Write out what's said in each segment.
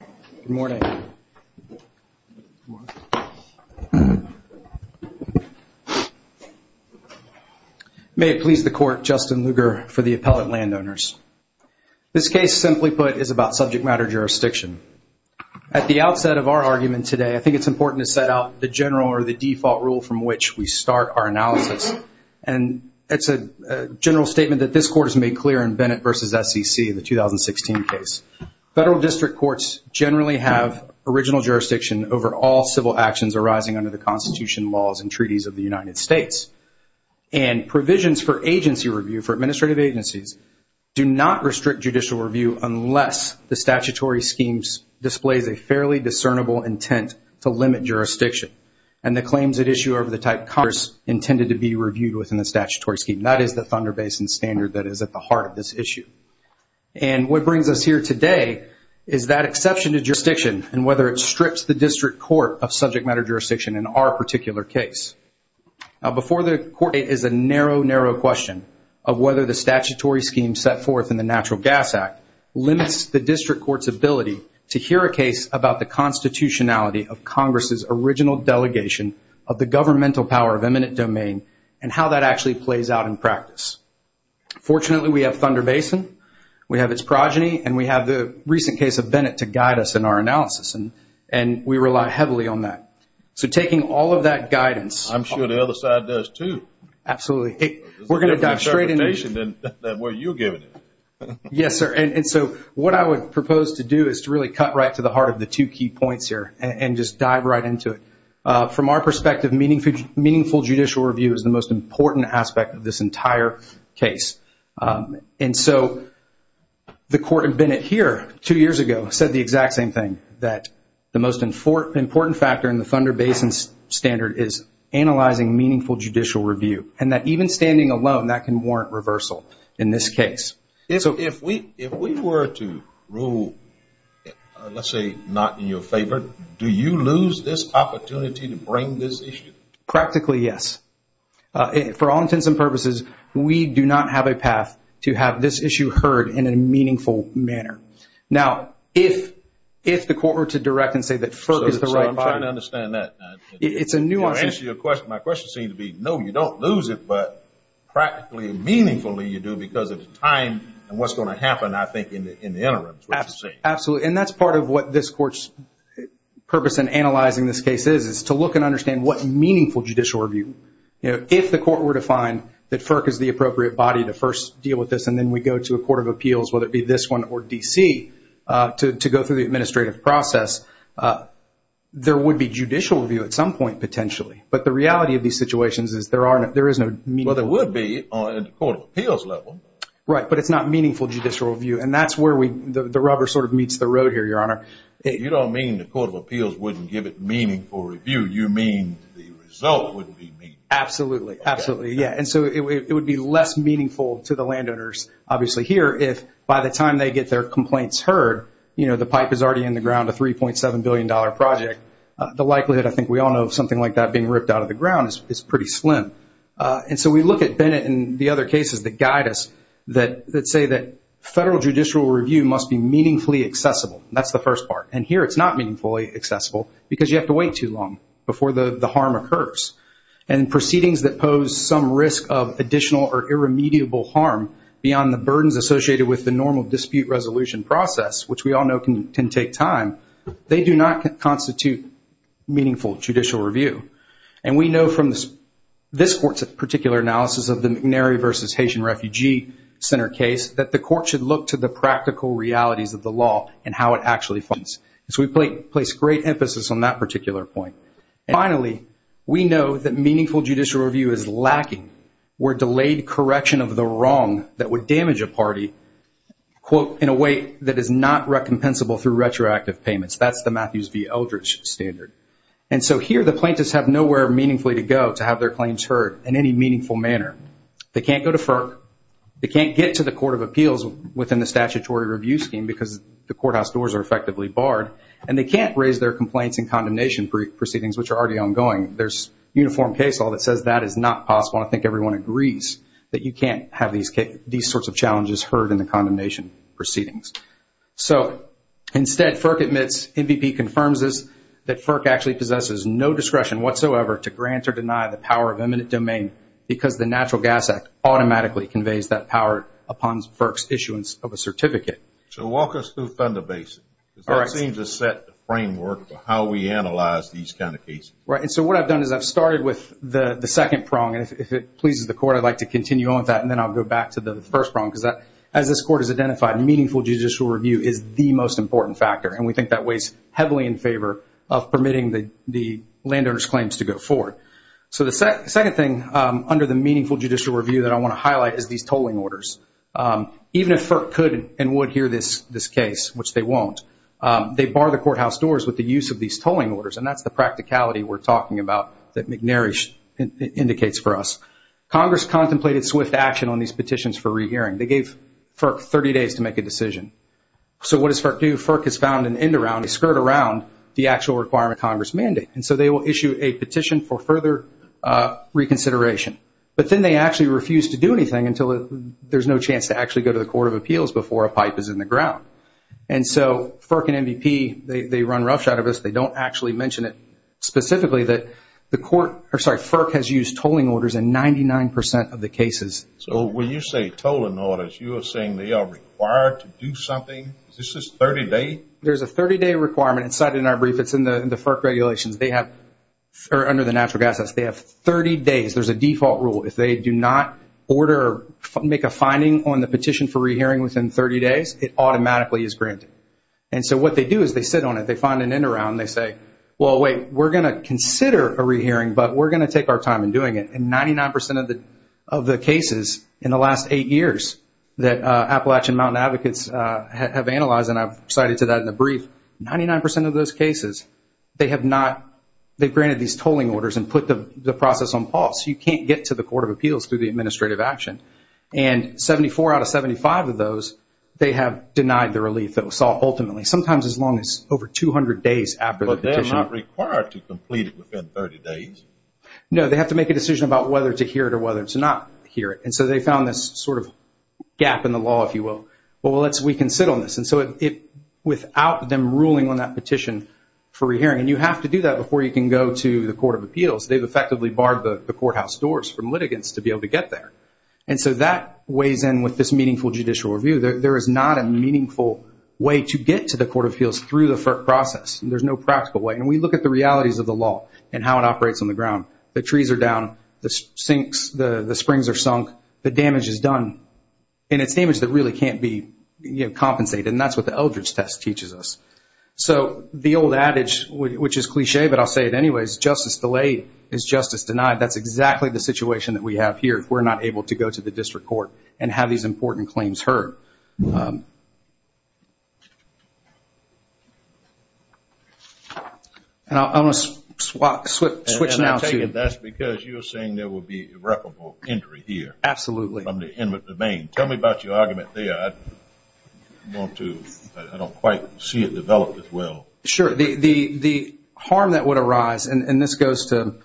Good morning. May it please the court, Justin Lugar for the appellate landowners. This case simply put is about subject matter jurisdiction. At the outset of our argument today I think it's important to set out the general or the default rule from which we start our analysis and it's a general statement that this court has made clear in Bennett v. SEC in the 2016 case. Federal District Courts generally have original jurisdiction over all civil actions arising under the Constitution laws and treaties of the United States and provisions for agency review for administrative agencies do not restrict judicial review unless the statutory schemes displays a fairly discernible intent to limit jurisdiction and the claims at issue over the type Congress intended to be reviewed within the statutory scheme. That is the Thunder Basin Standard that is at the heart of this issue and what brings us here today is that exception to jurisdiction and whether it strips the district court of subject matter jurisdiction in our particular case. Now before the court is a narrow, narrow question of whether the statutory scheme set forth in the Natural Gas Act limits the district court's ability to hear a case about the constitutionality of Congress's original delegation of the governmental power of eminent domain and how that actually plays out in practice. Fortunately, we have Thunder Basin, we have its progeny and we have the recent case of Bennett to guide us in our analysis and we rely heavily on that. So taking all of that guidance. I'm sure the other side does too. Absolutely. We're going to dive straight in. There's a different interpretation than what you're giving. Yes, sir. And so what I would propose to do is to really cut right to the heart of the two key points here and just dive right into it. From our perspective, meaningful judicial review is the most important aspect of this entire case. And so the court in Bennett here, two years ago, said the exact same thing. That the most important factor in the Thunder Basin standard is analyzing meaningful judicial review and that even standing alone that can warrant reversal in this case. If we were to rule, let's say, not in your favor, do you lose this opportunity to bring this issue? Practically, yes. For all intents and purposes, we do not have a path to have this issue heard in a meaningful manner. Now, if the court were to direct and say that FERC is the right body... So I'm trying to understand that. It's a nuanced... To answer your question, my question seems to be, no, you don't lose it, but practically and meaningfully you do because of the time and what's going to happen, I think, in the interim. Absolutely. And that's part of what this court's purpose in analyzing this case is, is to look and understand what meaningful judicial review, if the court were to find that FERC is the appropriate body to first deal with this and then we go to a Court of Appeals, whether it be this one or D.C., to go through the administrative process, there would be judicial review at some point, potentially. But the reality of these situations is there is no meaningful... Well, there would be on a Court of Appeals level. Right, but it's not meaningful judicial review. And that's where the rubber sort of meets the road here, Your Honor. You don't mean the Court of Appeals wouldn't give it meaningful review. You mean the result wouldn't be meaningful. Absolutely. Absolutely. Yeah. And so it would be less meaningful to the landowners, obviously, here if by the time they get their complaints heard, you know, the pipe is already in the ground, a $3.7 billion project, the likelihood, I think we all know, of something like that being ripped out of the ground is pretty slim. And so we look at Bennett and the other cases that guide us that say that federal judicial review must be meaningfully accessible. That's the first part. And here it's not meaningfully accessible because you have to wait too long before the harm occurs. And proceedings that pose some risk of additional or irremediable harm beyond the burdens associated with the normal dispute resolution process, which we all know can take time, they do not constitute meaningful judicial review. And we know from this Court's particular analysis of the McNary v. Haitian Refugee Center case that the court should look to the how it actually funds. So we place great emphasis on that particular point. And finally, we know that meaningful judicial review is lacking. We're delayed correction of the wrong that would damage a party, quote, in a way that is not recompensable through retroactive payments. That's the Matthews v. Eldridge standard. And so here the plaintiffs have nowhere meaningfully to go to have their claims heard in any meaningful manner. They can't go to FERC. They can't get to the Court of Appeals within the effectively barred. And they can't raise their complaints in condemnation proceedings, which are already ongoing. There's uniform case law that says that is not possible. I think everyone agrees that you can't have these sorts of challenges heard in the condemnation proceedings. So instead, FERC admits, MVP confirms this, that FERC actually possesses no discretion whatsoever to grant or deny the power of eminent domain because the Natural Gas Act automatically conveys that power upon FERC's issuance of a certificate. So walk us through Thunder Basin. Because that seems to set the framework for how we analyze these kind of cases. Right. And so what I've done is I've started with the second prong. And if it pleases the Court, I'd like to continue on with that. And then I'll go back to the first prong. Because as this Court has identified, meaningful judicial review is the most important factor. And we think that weighs heavily in favor of permitting the landowner's claims to go forward. So the second thing under the meaningful judicial review that I want to highlight is these tolling orders. Even if FERC could and would hear this case, which they won't, they bar the courthouse doors with the use of these tolling orders. And that's the practicality we're talking about that McNary indicates for us. Congress contemplated swift action on these petitions for rehearing. They gave FERC 30 days to make a decision. So what does FERC do? FERC has found an end-around. They skirt around the actual requirement of Congress mandate. And so they will issue a petition for further reconsideration. But then they actually refuse to do anything until there's no chance to actually go to the Court of Appeals before a pipe is in the ground. And so FERC and MVP, they run roughshod of this. They don't actually mention it specifically that the Court or sorry, FERC has used tolling orders in 99% of the cases. So when you say tolling orders, you are saying they are required to do something? This is 30-day? There's a 30-day requirement. It's cited in our brief. It's in the FERC regulations. They have, or under the Natural Gas Act, they have 30 days. There's a default rule. If they do not order, make a finding on the petition for rehearing within 30 days, it automatically is granted. And so what they do is they sit on it. They find an end-around. They say, well, wait, we're going to consider a rehearing, but we're going to take our time in doing it. And 99% of the cases in the last eight years that Appalachian Mountain Advocates have analyzed, and I've cited to that in the brief, 99% of those cases, they have not, they've granted these tolling calls. You can't get to the Court of Appeals through the administrative action. And 74 out of 75 of those, they have denied the relief ultimately. Sometimes as long as over 200 days after the petition. But they're not required to complete it within 30 days? No, they have to make a decision about whether to hear it or whether to not hear it. And so they found this sort of gap in the law, if you will. Well, let's, we can sit on this. And so it, without them ruling on that petition for rehearing, and you have to do that before you can go to the Court of Appeals, they've effectively barred the courthouse doors from litigants to be able to get there. And so that weighs in with this meaningful judicial review. There is not a meaningful way to get to the Court of Appeals through the FERC process. There's no practical way. And we look at the realities of the law and how it operates on the ground. The trees are down. The sinks, the springs are sunk. The damage is done. And it's damage that really can't be compensated. And that's what the Eldridge Test teaches us. So the old adage, which is cliche, but I'll say it anyways, justice delayed is justice denied. That's exactly the situation that we have here if we're not able to go to the district court and have these important claims heard. And I'm going to switch now to... And I'll tell you, that's because you were saying there would be irreparable injury here. Absolutely. From the inmate domain. Tell me about your argument there. I want to, I don't quite see it developed as well. Sure. The harm that would arise, and this goes to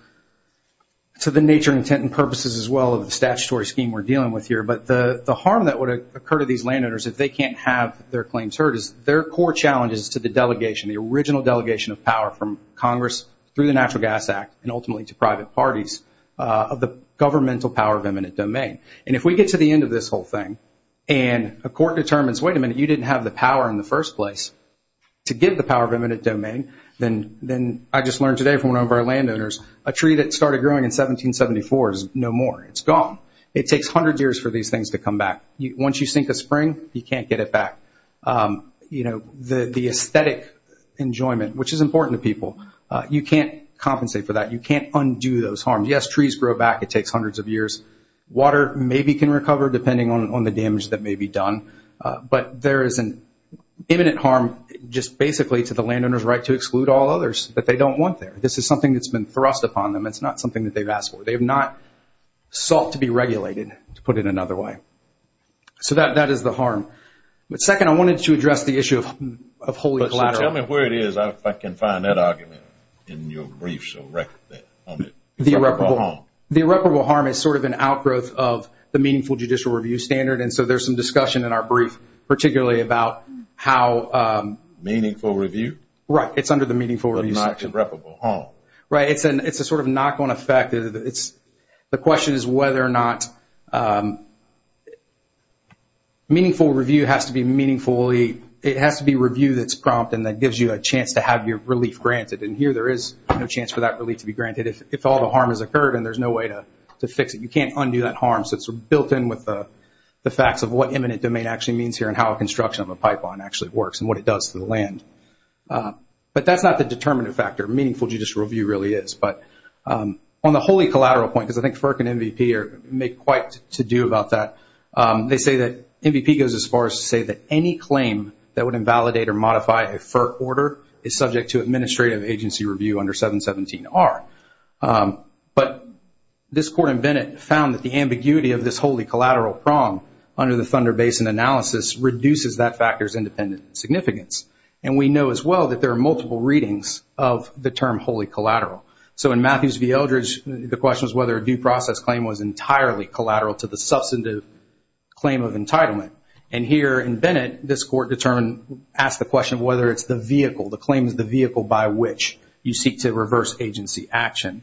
the nature, intent, and purposes as well of the statutory scheme we're dealing with here. But the harm that would occur to these landowners if they can't have their claims heard is their core challenges to the delegation, the original delegation of power from Congress through the Natural Gas Act and ultimately to private parties of the governmental power of eminent domain. And if we get to the end of this whole thing and a court determines, wait a minute, you didn't have the power in the first place to give the power of eminent domain, then I just learned today from one of our landowners, a tree that started growing in 1774 is no more. It's gone. It takes 100 years for these things to come back. Once you sink a spring, you can't get it back. The aesthetic enjoyment, which is important to people, you can't compensate for that. You can't undo those harms. Yes, trees grow back. It takes hundreds of years. Water maybe can recover depending on the damage that may be done. But there is an imminent harm just basically to the landowner's right to exclude all others that they don't want there. This is something that's been thrust upon them. It's not something that they've asked for. They have not sought to be regulated to put it another way. So that is the harm. Second, I wanted to address the issue of holy collateral. Tell me where it is if I can find that argument in your briefs or record. The irreparable harm is sort of an outgrowth of the meaningful judicial review standard. There's some discussion in our brief particularly about how... Meaningful review? Right. It's under the meaningful review section. But not irreparable harm? Right. It's a sort of knock-on effect. The question is whether or not meaningful review has to be review that's prompt and that gives you a chance to have your relief granted. Here there is no chance for that relief to be granted if all the harm has occurred and there's no way to fix it. You can't undo that harm. So it's built in with the facts of what imminent domain actually means here and how construction of a pipeline actually works and what it does to the land. But that's not the determinative factor. Meaningful judicial review really is. On the holy collateral point, because I think FERC and NVP make quite to do about that, they say that NVP goes as far as to say that any claim that would invalidate or modify a FERC order is subject to administrative agency review under 717R. But this court in Bennett found that the ambiguity of this holy collateral prong under the Thunder Basin analysis reduces that factor's independent significance. And we know as well that there are multiple readings of the term holy collateral. So in Matthews v. Eldridge the question was whether a due process claim was entirely collateral to the substantive claim of entitlement. And here in Bennett this court asked the question whether it's the vehicle, the claim is the vehicle by which you seek to reverse agency action.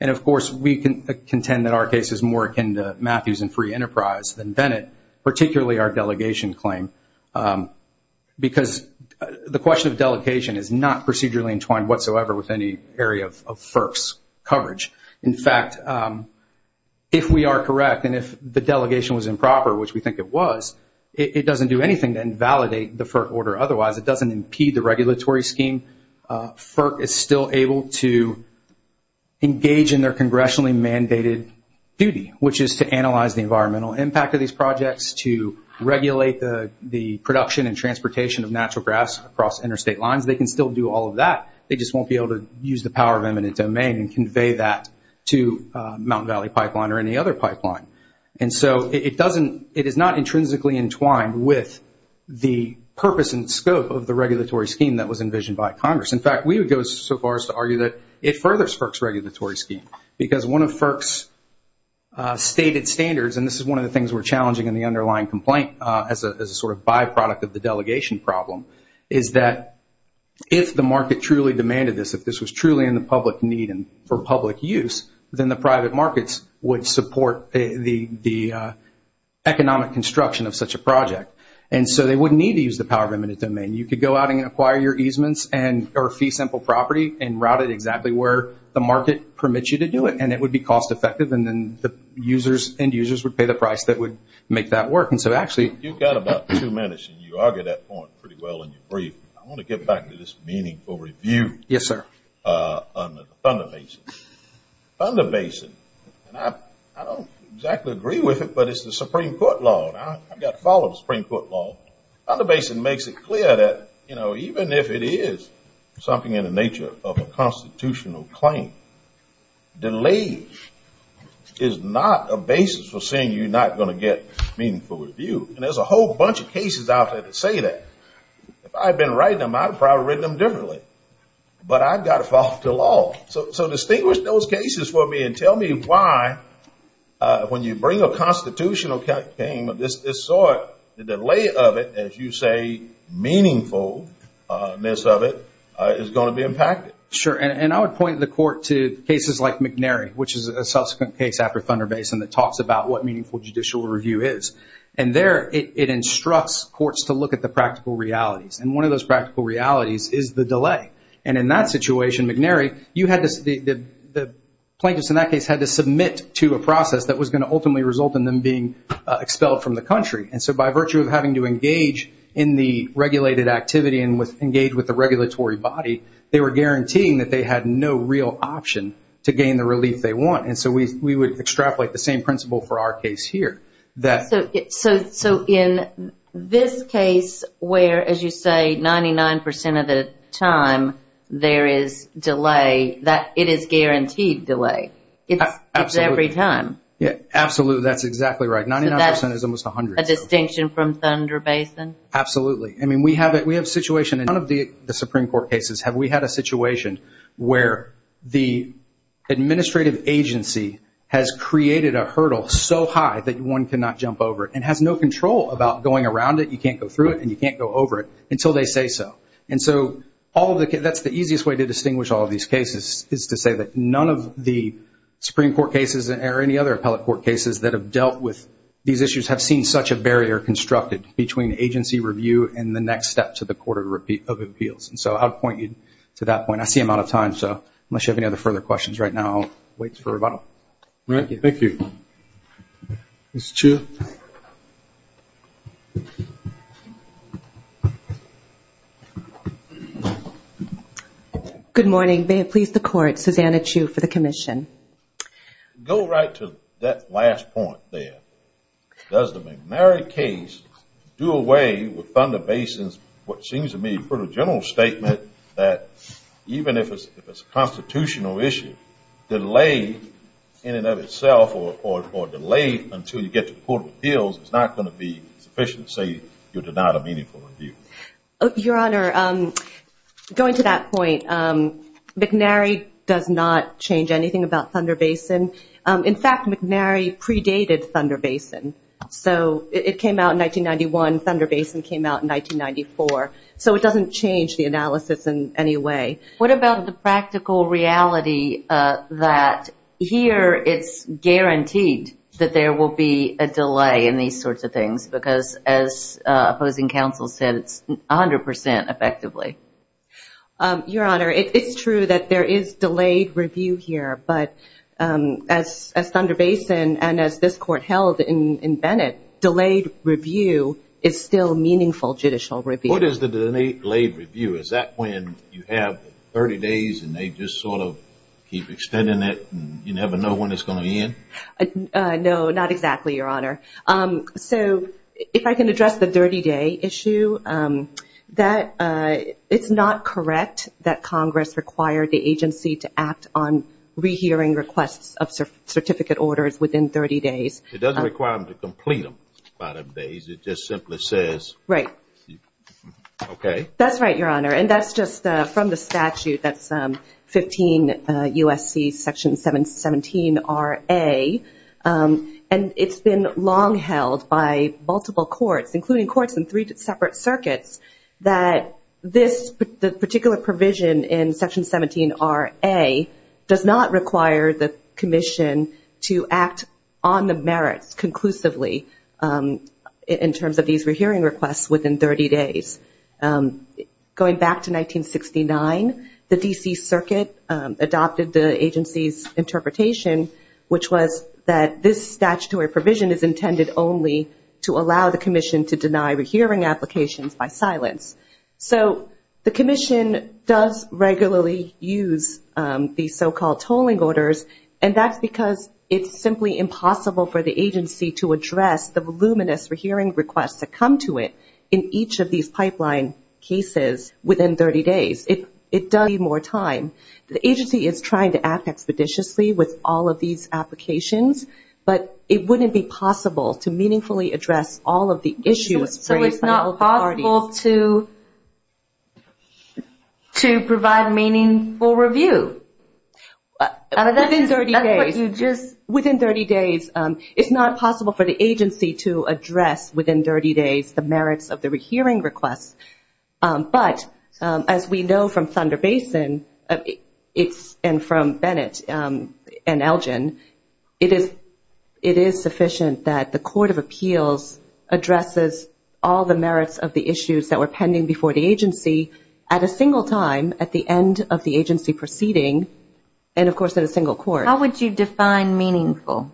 And of course we contend that our case is more akin to Matthews and Free Enterprise than Bennett, particularly our delegation claim. Because the question of delegation is not procedurally entwined whatsoever with any area of FERC's coverage. In fact, if we are correct and if the delegation was improper, which we think it was, it doesn't do anything to invalidate the FERC order otherwise. It doesn't impede the regulatory scheme. FERC is still able to engage in their congressionally mandated duty, which is to analyze the environmental impact of these projects, to regulate the production and transportation of natural grass across interstate lines. They can still do all of that. They just won't be able to use the power of eminent domain and convey that to Mountain Valley Pipeline or any other pipeline. And so it doesn't it is not intrinsically entwined with the purpose and scope of the regulatory scheme that was envisioned by Congress. In fact, we would go so far as to argue that it furthers FERC's regulatory scheme. Because one of FERC's stated standards, and this is one of the things we're challenging in the underlying complaint as a sort of byproduct of the delegation problem, is that if the market truly demanded this, if this was truly in the public need and for public use, then the private markets would support the economic construction of such a project. And so they wouldn't need to use the power of eminent domain. You could go out and acquire your easements or fee simple property and route it exactly where the market permits you to do it. And it would be cost effective. And then the end users would pay the price that would make that work. And so actually... You've got about two minutes. You argued that point pretty well in your brief. I want to get back to this meaningful review. Yes, sir. On the Thunder Basin. Thunder Basin. I don't exactly agree with it, but it's the Supreme Court law. Thunder Basin makes it clear that even if it is something in the nature of a constitutional claim, delayed is not a basis for saying you're not going to get meaningful review. And there's a whole bunch of cases out there that say that. If I'd been writing them, I'd have probably written them differently. But I've got to follow the law. So distinguish those cases for me and tell me why, when you bring a constitutional claim of this sort, the delay of it, as you say, meaningfulness of it is going to be impacted. Sure. And I would point the court to cases like McNary, which is a subsequent case after Thunder Basin that talks about what meaningful judicial review is. And there it instructs courts to look at the practical realities. And one of those practical realities is the delay. And in that situation, McNary, the plaintiffs in that case had to submit to a process that was going to ultimately result in them being expelled from the country. And so by virtue of having to engage in the regulated activity and engage with the regulatory body, they were guaranteeing that they had no real option to gain the relief they want. And so we would extrapolate the same principle for our case here. So in this case where, as you say, 99% of the time there is delay, it is guaranteed delay. It's every time. Absolutely. That's exactly right. 99% is almost 100%. A distinction from Thunder Basin. Absolutely. I mean, we have a situation in none of the Supreme Court cases have we had a situation where the administrative agency has created a hurdle so high that one cannot jump over it and has no control about going around it. You can't go through it and you can't go over it until they say so. And so that's the easiest way to distinguish all of these cases is to say that none of the Supreme Court cases or any other appellate court cases that have dealt with these issues have seen such a barrier constructed between agency review and the next step to the Court of Appeals. And so I'll point you to that point. I see I'm out of time, so unless you have any other further questions right now, I'll wait for a rebuttal. Thank you. Ms. Chiu. Good morning. May it please the Court. Susanna Chiu for the Commission. Go right to that last point there. Does the McNary case do away with Thunder Basin's what seems to me a pretty general statement that even if it's a constitutional issue, delay in the Court of Appeals is not going to be sufficient to say you're denied a meaningful review? Your Honor, going to that point, McNary does not change anything about Thunder Basin. In fact, McNary predated Thunder Basin. It came out in 1991. Thunder Basin came out in 1994. So it doesn't change the analysis in any way. What about the practical reality that here it's guaranteed that there will be a delay in these sorts of things, because as opposing counsel said, it's 100% effectively. Your Honor, it's true that there is delayed review here, but as Thunder Basin and as this Court held in Bennett, delayed review is still meaningful judicial review. What is the delayed review? Is that when you have 30 days and they just sort of keep extending it and you never know when it's going to end? No, not exactly, Your Honor. So if I can address the 30-day issue, it's not correct that Congress required the agency to act on rehearing requests of certificate orders within 30 days. It doesn't require them to complete them by those days. It just simply says... Right. Okay. That's right, Your Honor, and that's just from the statute. That's 15 USC Section 717RA. And it's been long held by multiple courts, including courts in three separate circuits, that this particular provision in Section 17RA does not require the Commission to act on the merits conclusively in terms of these rehearing requests within 30 days. Going back to 1969, the D.C. Circuit adopted the agency's interpretation which was that this statutory provision is intended only to allow the Commission to deny rehearing applications by silence. So the Commission does regularly use these so-called tolling orders, and that's because it's simply impossible for the agency to address the voluminous rehearing requests that come to it in each of these pipeline cases within 30 days. It does need more time. The agency is trying to act expeditiously with all of these applications, but it wouldn't be possible to meaningfully address all of the issues raised by all parties. So it's not possible to provide meaningful review? Within 30 days. That's what you just... Within 30 days, it's not possible for the agency to address within 30 days the merits of the hearing requests. But, as we know from Thunder Basin, and from Bennett and Elgin, it is sufficient that the Court of Appeals addresses all the merits of the issues that were pending before the agency at a single time at the end of the agency proceeding, and of course at a single court. How would you define meaningful?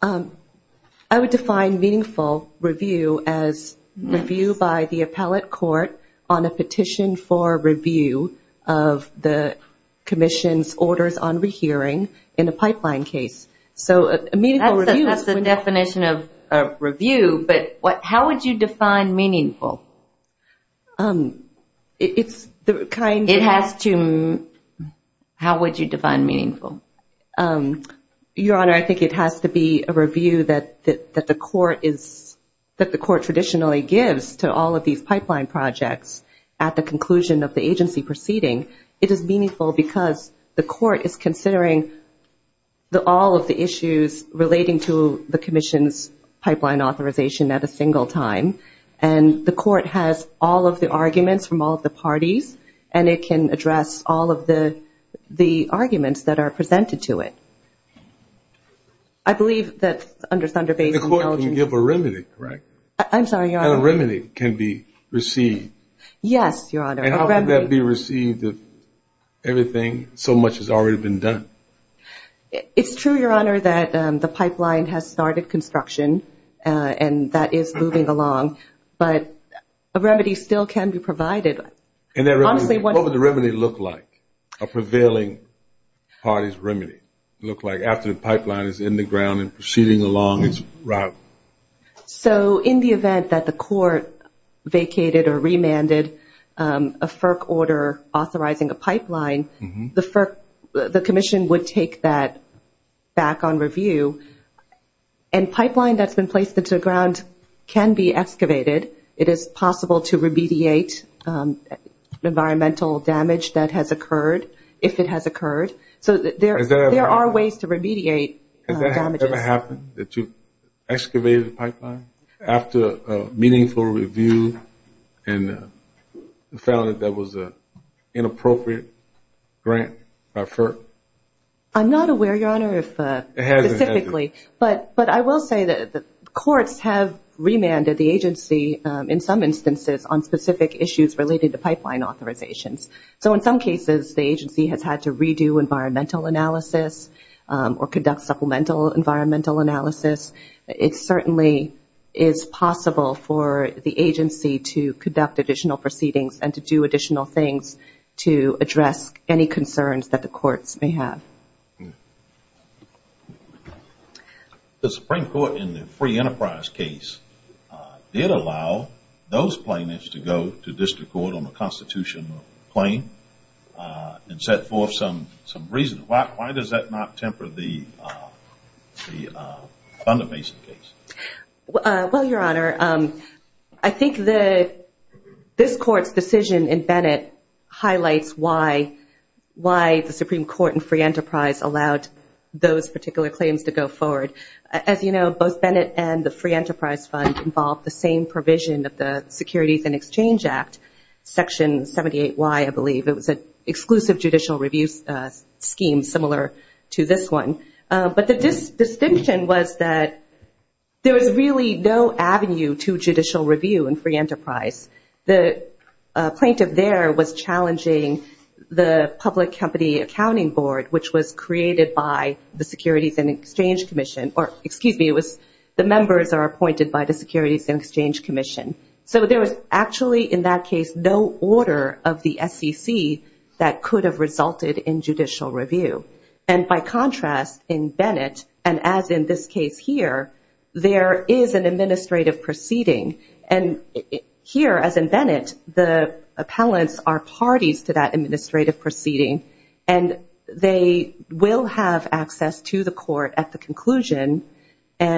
I would define meaningful review as review by the appellate court on a petition for review of the Commission's orders on rehearing in a pipeline case. That's the definition of review, but how would you define meaningful? It has to... How would you define meaningful? It has to do with the review that the Court traditionally gives to all of these pipeline projects at the conclusion of the agency proceeding. It is meaningful because the Court is considering all of the issues relating to the Commission's pipeline authorization at a single time, and the Court has all of the arguments from all of the Thunder Basin... And the Court can give a remedy, correct? I'm sorry, Your Honor. And a remedy can be received. Yes, Your Honor. And how can that be received if everything, so much has already been done? It's true, Your Honor, that the pipeline has started construction and that is moving along, but a remedy still can be provided. And what would the remedy look like? A prevailing party's remedy look like after the pipeline is in the ground and proceeding along its route? In the event that the Court vacated or remanded a FERC order authorizing a pipeline, the Commission would take that back on review. And pipeline that's been placed into the ground can be excavated. It is possible to remediate environmental damage that has occurred, if it has occurred. So there are ways to remediate damages. Has that ever happened, that you've excavated a pipeline after a meaningful review and found that that was an inappropriate grant by FERC? I'm not aware, Your Honor, specifically. But I will say that the Courts have remanded the agency in some instances on specific issues related to pipeline authorizations. So in some cases the agency has had to redo environmental analysis or conduct supplemental environmental analysis. It certainly is possible for the agency to conduct additional proceedings and to do additional things to address any concerns that the Courts may have. The Supreme Court in the Free Enterprise case did allow those plaintiffs to go to district court on the Constitution claim and set forth some reasons. Why does that not temper the Fundamason case? Well, Your Honor, I think this Court's decision in Bennett highlights why the Supreme Court in Free Enterprise allowed those particular claims to go forward. As you know, both Bennett and the Free Enterprise Fund involved the same provision of the Securities and Exchange Act, Section 78Y, I believe. It was an exclusive judicial review scheme similar to this one. But the distinction was that there was really no avenue to judicial review in Free Enterprise. The plaintiff there was challenging the public company accounting board, which was created by the Securities and Exchange Commission. Excuse me, the members are appointed by the Securities and Exchange Commission. So there was actually, in that case, no order of the SEC that could have resulted in judicial review. By contrast, in Bennett, and as in this case here, there is an administrative proceeding. Here, as in Bennett, the appellants are parties to that administrative proceeding, and they will have access to the Court at the conclusion, but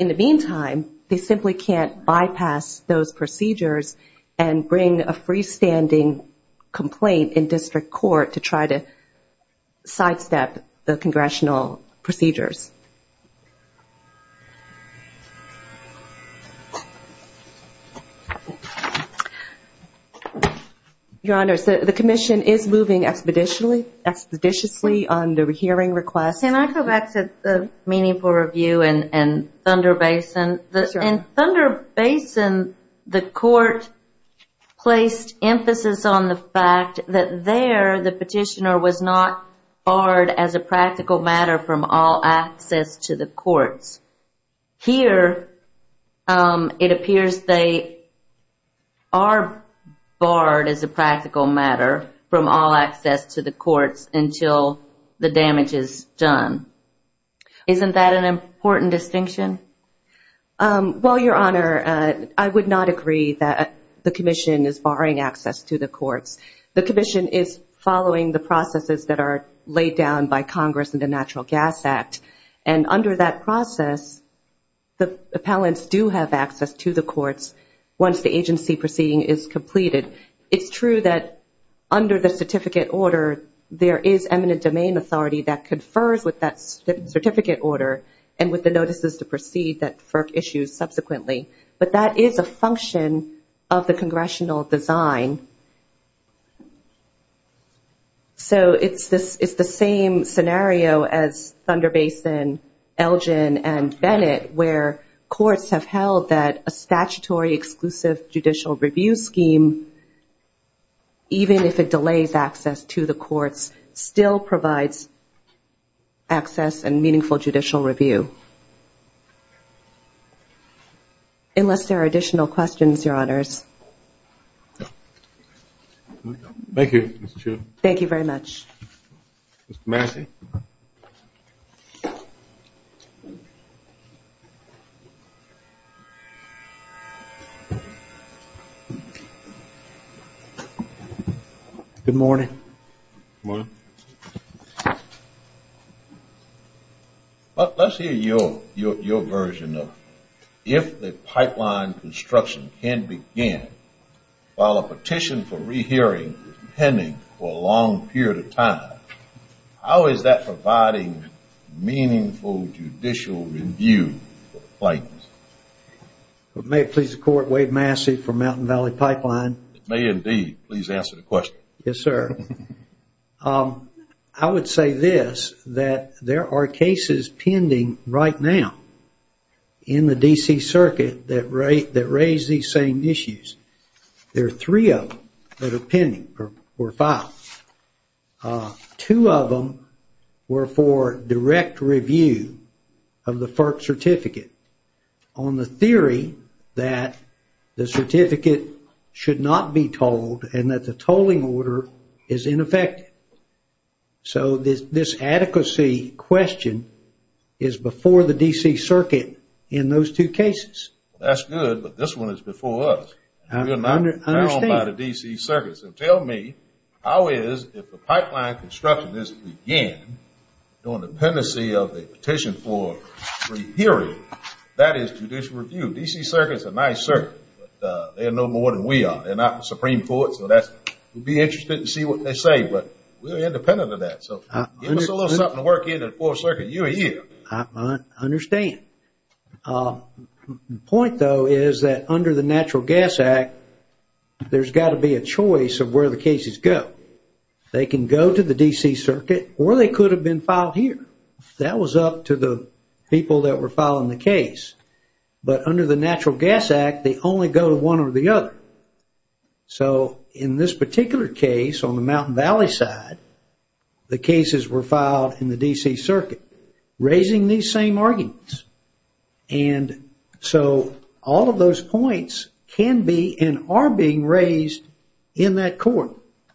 in the Supreme Court, the appellants will be able to bypass those procedures and bring a freestanding complaint in district court to try to sidestep the Congressional procedures. Your Honors, the Commission is moving expeditiously on the hearing requests. Can I go back to the Meaningful Review and Thunder Basin? In Thunder Basin, the Court placed emphasis on the fact that there, the petitioner was not barred as a practical matter from all access to the courts. Here, it appears they are barred as a practical matter from all access to the courts until the damage is done. Isn't that an important distinction? Well, Your Honor, I would not agree that the Commission is barring access to the courts. The Commission is following the processes that are laid down by Congress in the Natural Gas Act, and under that process, the appellants do have access to the courts once the agency proceeding is completed. It's true that under the certificate order, there is eminent domain authority that confers with that certificate order and with the notices to proceed that FERC issues subsequently, but that is a function of the Congressional design. It's the same scenario as Thunder Basin, Elgin, and Bennett, where courts have held that a statutory exclusive judicial review scheme, even if it delays access to the courts, still provides access and meaningful judicial review. Unless there are additional questions, Your Honors. Thank you, Ms. Chu. Thank you very much. Mr. Massey. Good morning. Good morning. Let's hear your version of if the pipeline construction can begin while a petition for re-hearing is pending for a long period of time, how is that providing meaningful judicial review? May it please the Court, I'm Wade Massey from Mountain Valley Pipeline. It may indeed please answer the question. Yes, sir. I would say this, that there are cases pending right now in the D.C. Circuit that raise these same issues. There are three of them that are pending or filed. Two of them were for direct review of the FERC certificate on the theory that the certificate should not be tolled and that the tolling order is ineffective. So this adequacy question is before the D.C. Circuit in those two cases. That's good, but this one is before us. We are not bound by the D.C. Circuit. So tell me, how is, if the pipeline construction is to begin on dependency of the petition for re-hearing, that is judicial review? D.C. Circuit is a nice circuit, but they are no more than we are. They are not the Supreme Court. We would be interested to see what they say, but we are independent of that. Give us a little something to work into the 4th Circuit year on year. I understand. The point, though, is that under the Natural Gas Act, there's got to be a choice of where the cases go. They can go to the D.C. Circuit or they could have been filed here. That was up to the people that were filing the case. But under the Natural Gas Act, they only go to one or the other. So in this particular case on the Mountain Valley side, the cases were filed in the D.C. Circuit, raising these same arguments. All of those points can be and are being raised in that court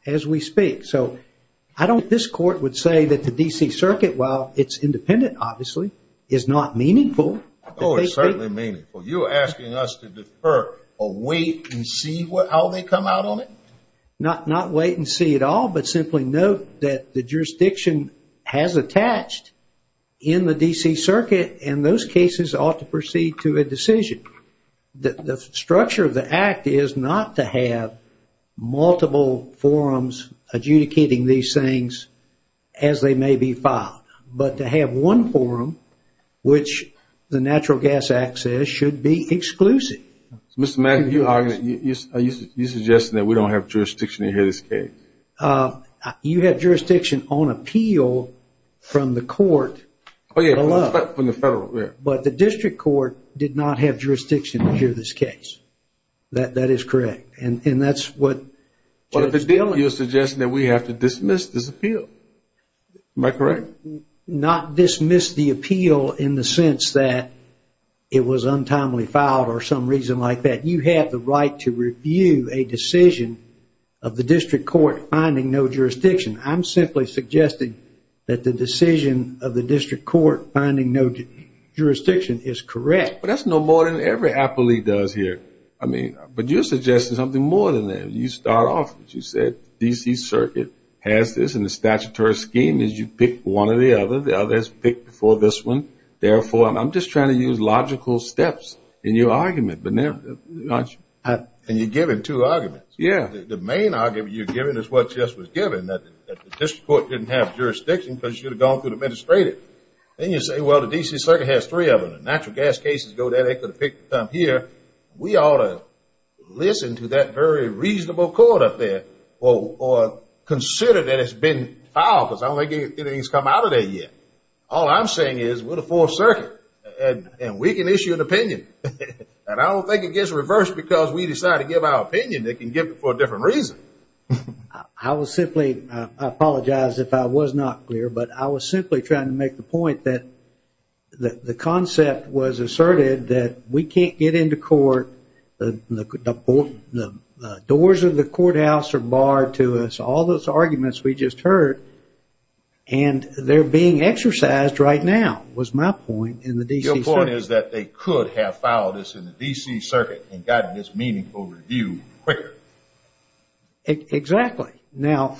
as we speak. This Court would say that the D.C. Circuit, while it's independent, obviously, is not meaningful. Oh, it's certainly meaningful. You're asking us to defer or wait and see how they come out on it? Not wait and see it all, but simply note that the jurisdiction has attached in the D.C. Circuit and those cases ought to proceed to a decision. The structure of the Act is not to have multiple forums adjudicating these things as they may be filed, but to have one forum, which the Natural Gas Act says should be exclusive. You're suggesting that we don't have jurisdiction in this case? You have jurisdiction on appeal from the Court. Oh yeah, from the Federal. But the District Court did not have jurisdiction in this case. That is correct. You're suggesting that we have to dismiss this appeal. Am I correct? Not dismiss the appeal in the sense that it was untimely filed or some reason like that. You have the right to review a decision of the District Court finding no jurisdiction. I'm simply suggesting that the decision of the District Court finding no jurisdiction is correct. But that's no more than every appellee does here. But you're suggesting something more than that. You start off, as you said, the D.C. Circuit has this and the statutory scheme is you pick one or the other. The others pick before this one. Therefore, I'm just trying to use logical steps in your argument. And you're giving two arguments. The main argument you're giving is what Jess was giving, that the District Court didn't have jurisdiction because you'd have gone through the administrative. And you say, well, the D.C. Circuit has three of them. The natural gas cases go there, they could have picked up here. We ought to listen to that very reasonable court up there or consider that it's been filed because I don't think anything's come out of there yet. All I'm saying is we're the Fourth Circuit and we can issue an opinion. And I don't think it gets reversed because we decide to give our opinion. They can give it for a different reason. I will simply apologize if I was not clear, but I was simply trying to make the point that the concept was asserted that we can't get into court, the doors of the courthouse are barred to us, all those arguments we just heard, and they're being exercised right now was my point in the D.C. Circuit. Your point is that they could have filed this in the D.C. Circuit and gotten this meaningful review quicker. Exactly. Now,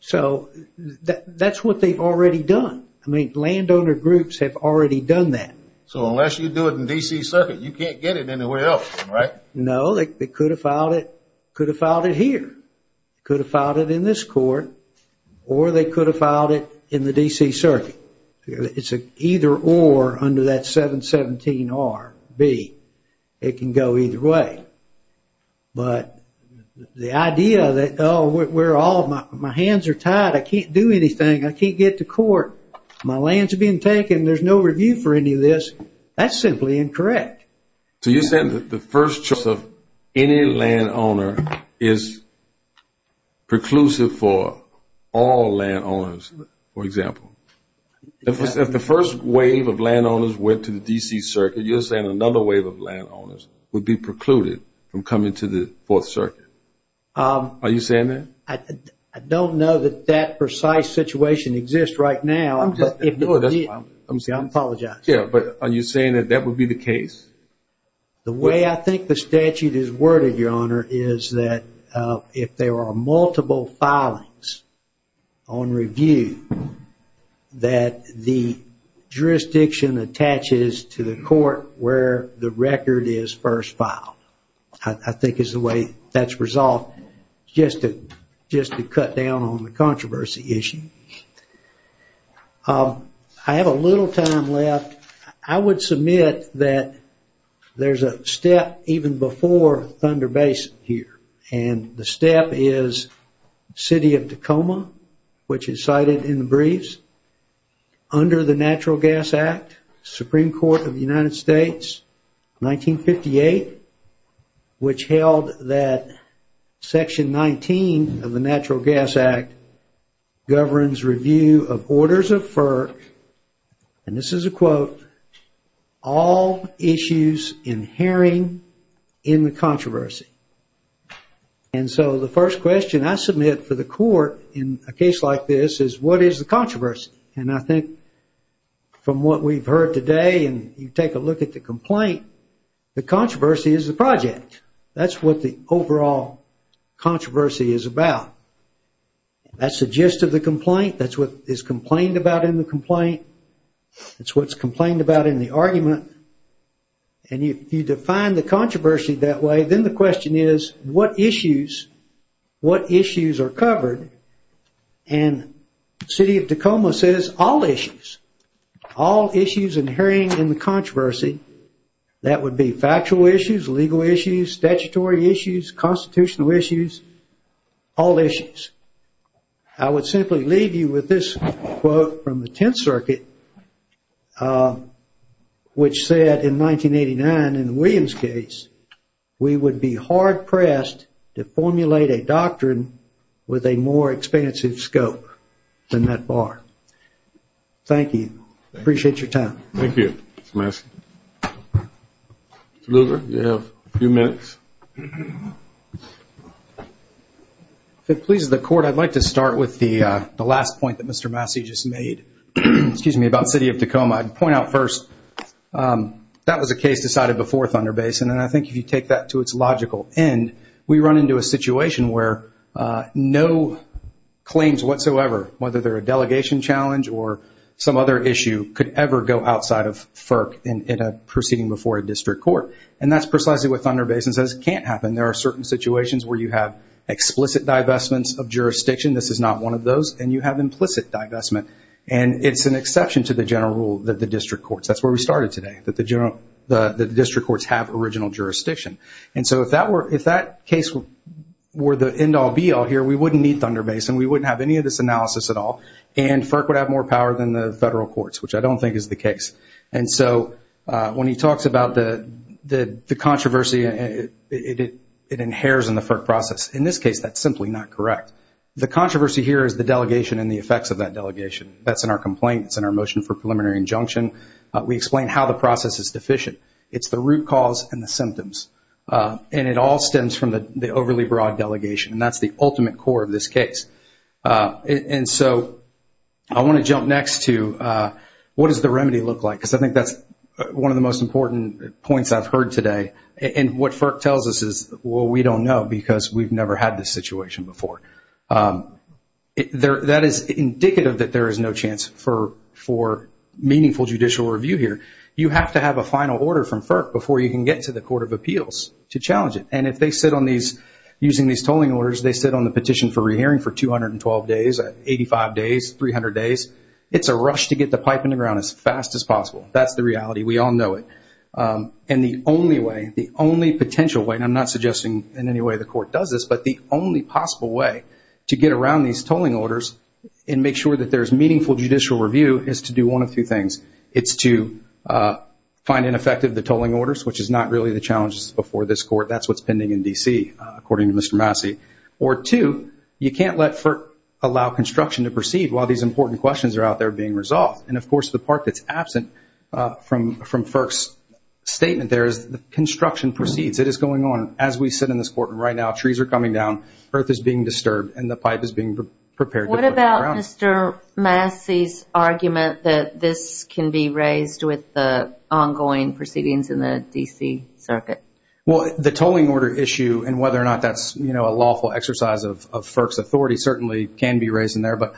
so that's what they've already done. I mean, landowner groups have already done that. So unless you do it in the D.C. Circuit, you can't get it anywhere else, right? No, they could have filed it here, could have filed it in this court, or they could have filed it in the D.C. Circuit. It's either or under that 717-R B. It can go either way. But the idea that, oh, we're all, my hands are in court, my lands are being taken, there's no review for any of this, that's simply incorrect. So you're saying that the first choice of any landowner is preclusive for all landowners, for example. If the first wave of landowners went to the D.C. Circuit, you're saying another wave of landowners would be precluded from coming to the Fourth Circuit. Are you saying that? I don't know that that precise situation exists right now. I'm sorry, I apologize. Yeah, but are you saying that that would be the case? The way I think the statute is worded, Your Honor, is that if there are multiple filings on review, that the jurisdiction attaches to the court where the record is first filed. I think is the way that's resolved. Just to cut down on the controversy issue. I have a little time left. I would submit that there's a step even before Thunder Basin here, and the step is City of Tacoma, which is cited in the briefs, under the Natural Gas Act, Supreme Court of the United States, 1958, which held that the Natural Gas Act governs review of orders of FERC, and this is a quote, all issues inhering in the controversy. And so the first question I submit for the court in a case like this is, what is the controversy? And I think from what we've heard today, and you take a look at the complaint, the controversy is the project. That's what the overall controversy is about. That's the gist of the complaint. That's what is complained about in the complaint. That's what's complained about in the argument. And if you define the controversy that way, then the question is, what issues are covered? And City of Tacoma says all issues. All issues inhering in the controversy. That would be factual issues, legal issues, statutory issues, constitutional issues, all issues. I would simply leave you with this quote from the Tenth Circuit, which said in 1989 in the Williams case, we would be hard-pressed to formulate a doctrine with a more expansive scope than that bar. Thank you. Appreciate your time. You have a few minutes. If it pleases the court, I'd like to start with the last point that Mr. Massey just made about City of Tacoma. I'd point out first that was a case decided before Thunder Basin, and I think if you take that to its logical end, we run into a situation where no claims whatsoever, whether they're a delegation challenge or some other issue, could ever go outside of FERC in that's precisely what Thunder Basin says can't happen. There are certain situations where you have explicit divestments of jurisdiction. This is not one of those. And you have implicit divestment. And it's an exception to the general rule that the district courts, that's where we started today, that the district courts have original jurisdiction. And so if that case were the end-all be-all here, we wouldn't need Thunder Basin. We wouldn't have any of this analysis at all. And FERC would have more power than the federal courts, which I don't think is the case. And so when he talks about the controversy it inheres in the FERC process. In this case, that's simply not correct. The controversy here is the delegation and the effects of that delegation. That's in our complaint. It's in our motion for preliminary injunction. We explain how the process is deficient. It's the root cause and the symptoms. And it all stems from the overly broad delegation. And that's the ultimate core of this case. And so I want to jump next to what does the remedy look like? Because I think that's one of the most important points I've heard today. And what FERC tells us is, well, we don't know because we've never had this situation before. That is indicative that there is no chance for meaningful judicial review here. You have to have a final order from FERC before you can get to the Court of Appeals to challenge it. And if they sit on these, using these tolling orders, they sit on the petition for re-hearing for 212 days, 85 days, 300 days, it's a rush to get the pipe in the ground as fast as possible. That's the reality. We all know it. And the only way, the only potential way, and I'm not suggesting in any way the Court does this, but the only possible way to get around these tolling orders and make sure that there's meaningful judicial review is to do one of two things. It's to find ineffective the tolling orders, which is not really the challenges before this Court. That's what's pending in D.C. according to Mr. Massey. Or two, you can't let FERC allow construction to proceed while these important questions are out there being resolved. And of course, the part that's absent from FERC's statement there is that construction proceeds. It is going on as we sit in this Court and right now trees are coming down, earth is being disturbed, and the pipe is being prepared to put in the ground. What about Mr. Massey's argument that this can be raised with the ongoing proceedings in the D.C. circuit? Well, the tolling order issue and whether or not that's a lawful exercise of FERC's authority certainly can be raised in there, but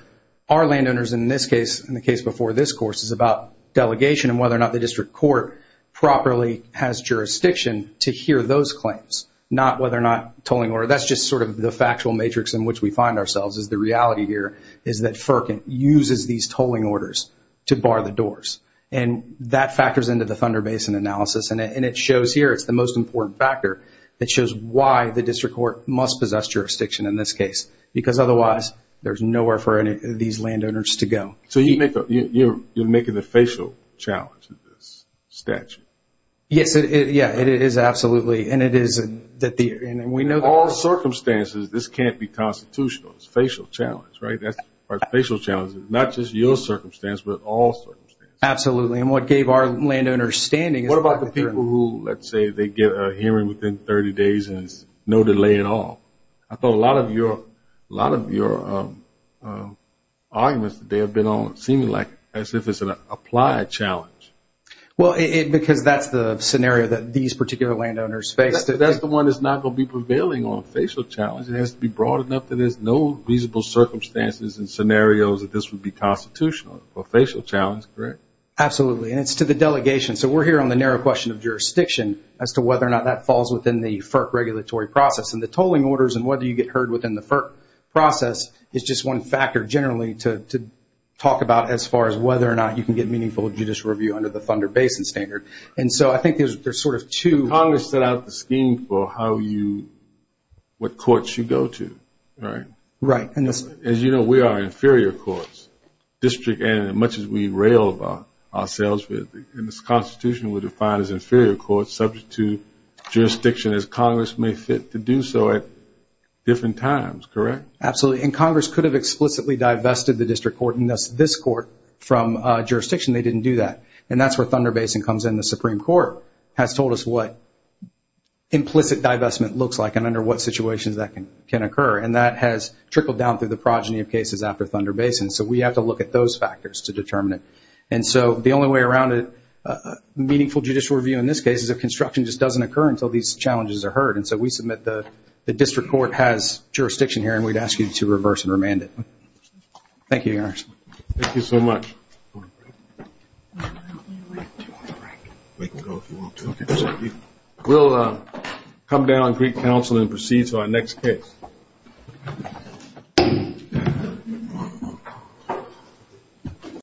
our landowners in this case and the case before this Court is about delegation and whether or not the District Court properly has jurisdiction to hear those claims, not whether or not tolling order. That's just sort of the factual matrix in which we find ourselves is the reality here is that FERC uses these tolling orders to bar the doors. And that factors into the Thunder Basin analysis, and it shows here, it's the most important factor that shows why the District Court must possess jurisdiction in this case, because otherwise there's nowhere for any of these landowners to go. So you're making the facial challenge of this statute? Yes, it is absolutely, and it is... In all circumstances, this can't be constitutional. It's a facial challenge, right? It's not just your circumstance, but all circumstances. Absolutely, and what gave our landowners standing... What about the people who, let's say, they get a hearing within 30 days and there's no delay at all? I thought a lot of your arguments today have been on, seeming like as if it's an applied challenge. Well, because that's the scenario that these particular landowners face. That's the one that's not going to be prevailing on facial challenge. It has to be broad enough that there's no reasonable circumstances and scenarios that this would be constitutional for a facial challenge, correct? Absolutely, and it's to the delegation. So we're here on the narrow question of jurisdiction as to whether or not that falls within the FERC regulatory process. And the tolling orders and whether you get heard within the FERC process is just one factor, generally, to talk about as far as whether or not you can get meaningful judicial review under the Thunder Basin Standard. And so I think there's sort of two... Congress set out the scheme for how you... what courts you go to, right? Right, and this... As you know, we are inferior courts, district, and as much as we rail ourselves in this Constitution, we're defined as inferior courts subject to jurisdiction as Congress may fit to do so at different times, correct? Absolutely, and Congress could have explicitly divested the district court and thus this court from jurisdiction. They didn't do that. And that's where Thunder Basin comes in. The Supreme Court has told us what implicit divestment looks like and under what situations that can occur. And that has trickled down through the progeny of cases after Thunder Basin. So we have to look at those factors to determine it. And so the only way around meaningful judicial review in this case is if construction just doesn't occur until these challenges are heard. And so we submit that the district court has jurisdiction here and we'd ask you to reverse and remand it. Thank you, Your Honor. Thank you so much. We can go if you want to. We'll come down and greet counsel and proceed to our next case. Thank you.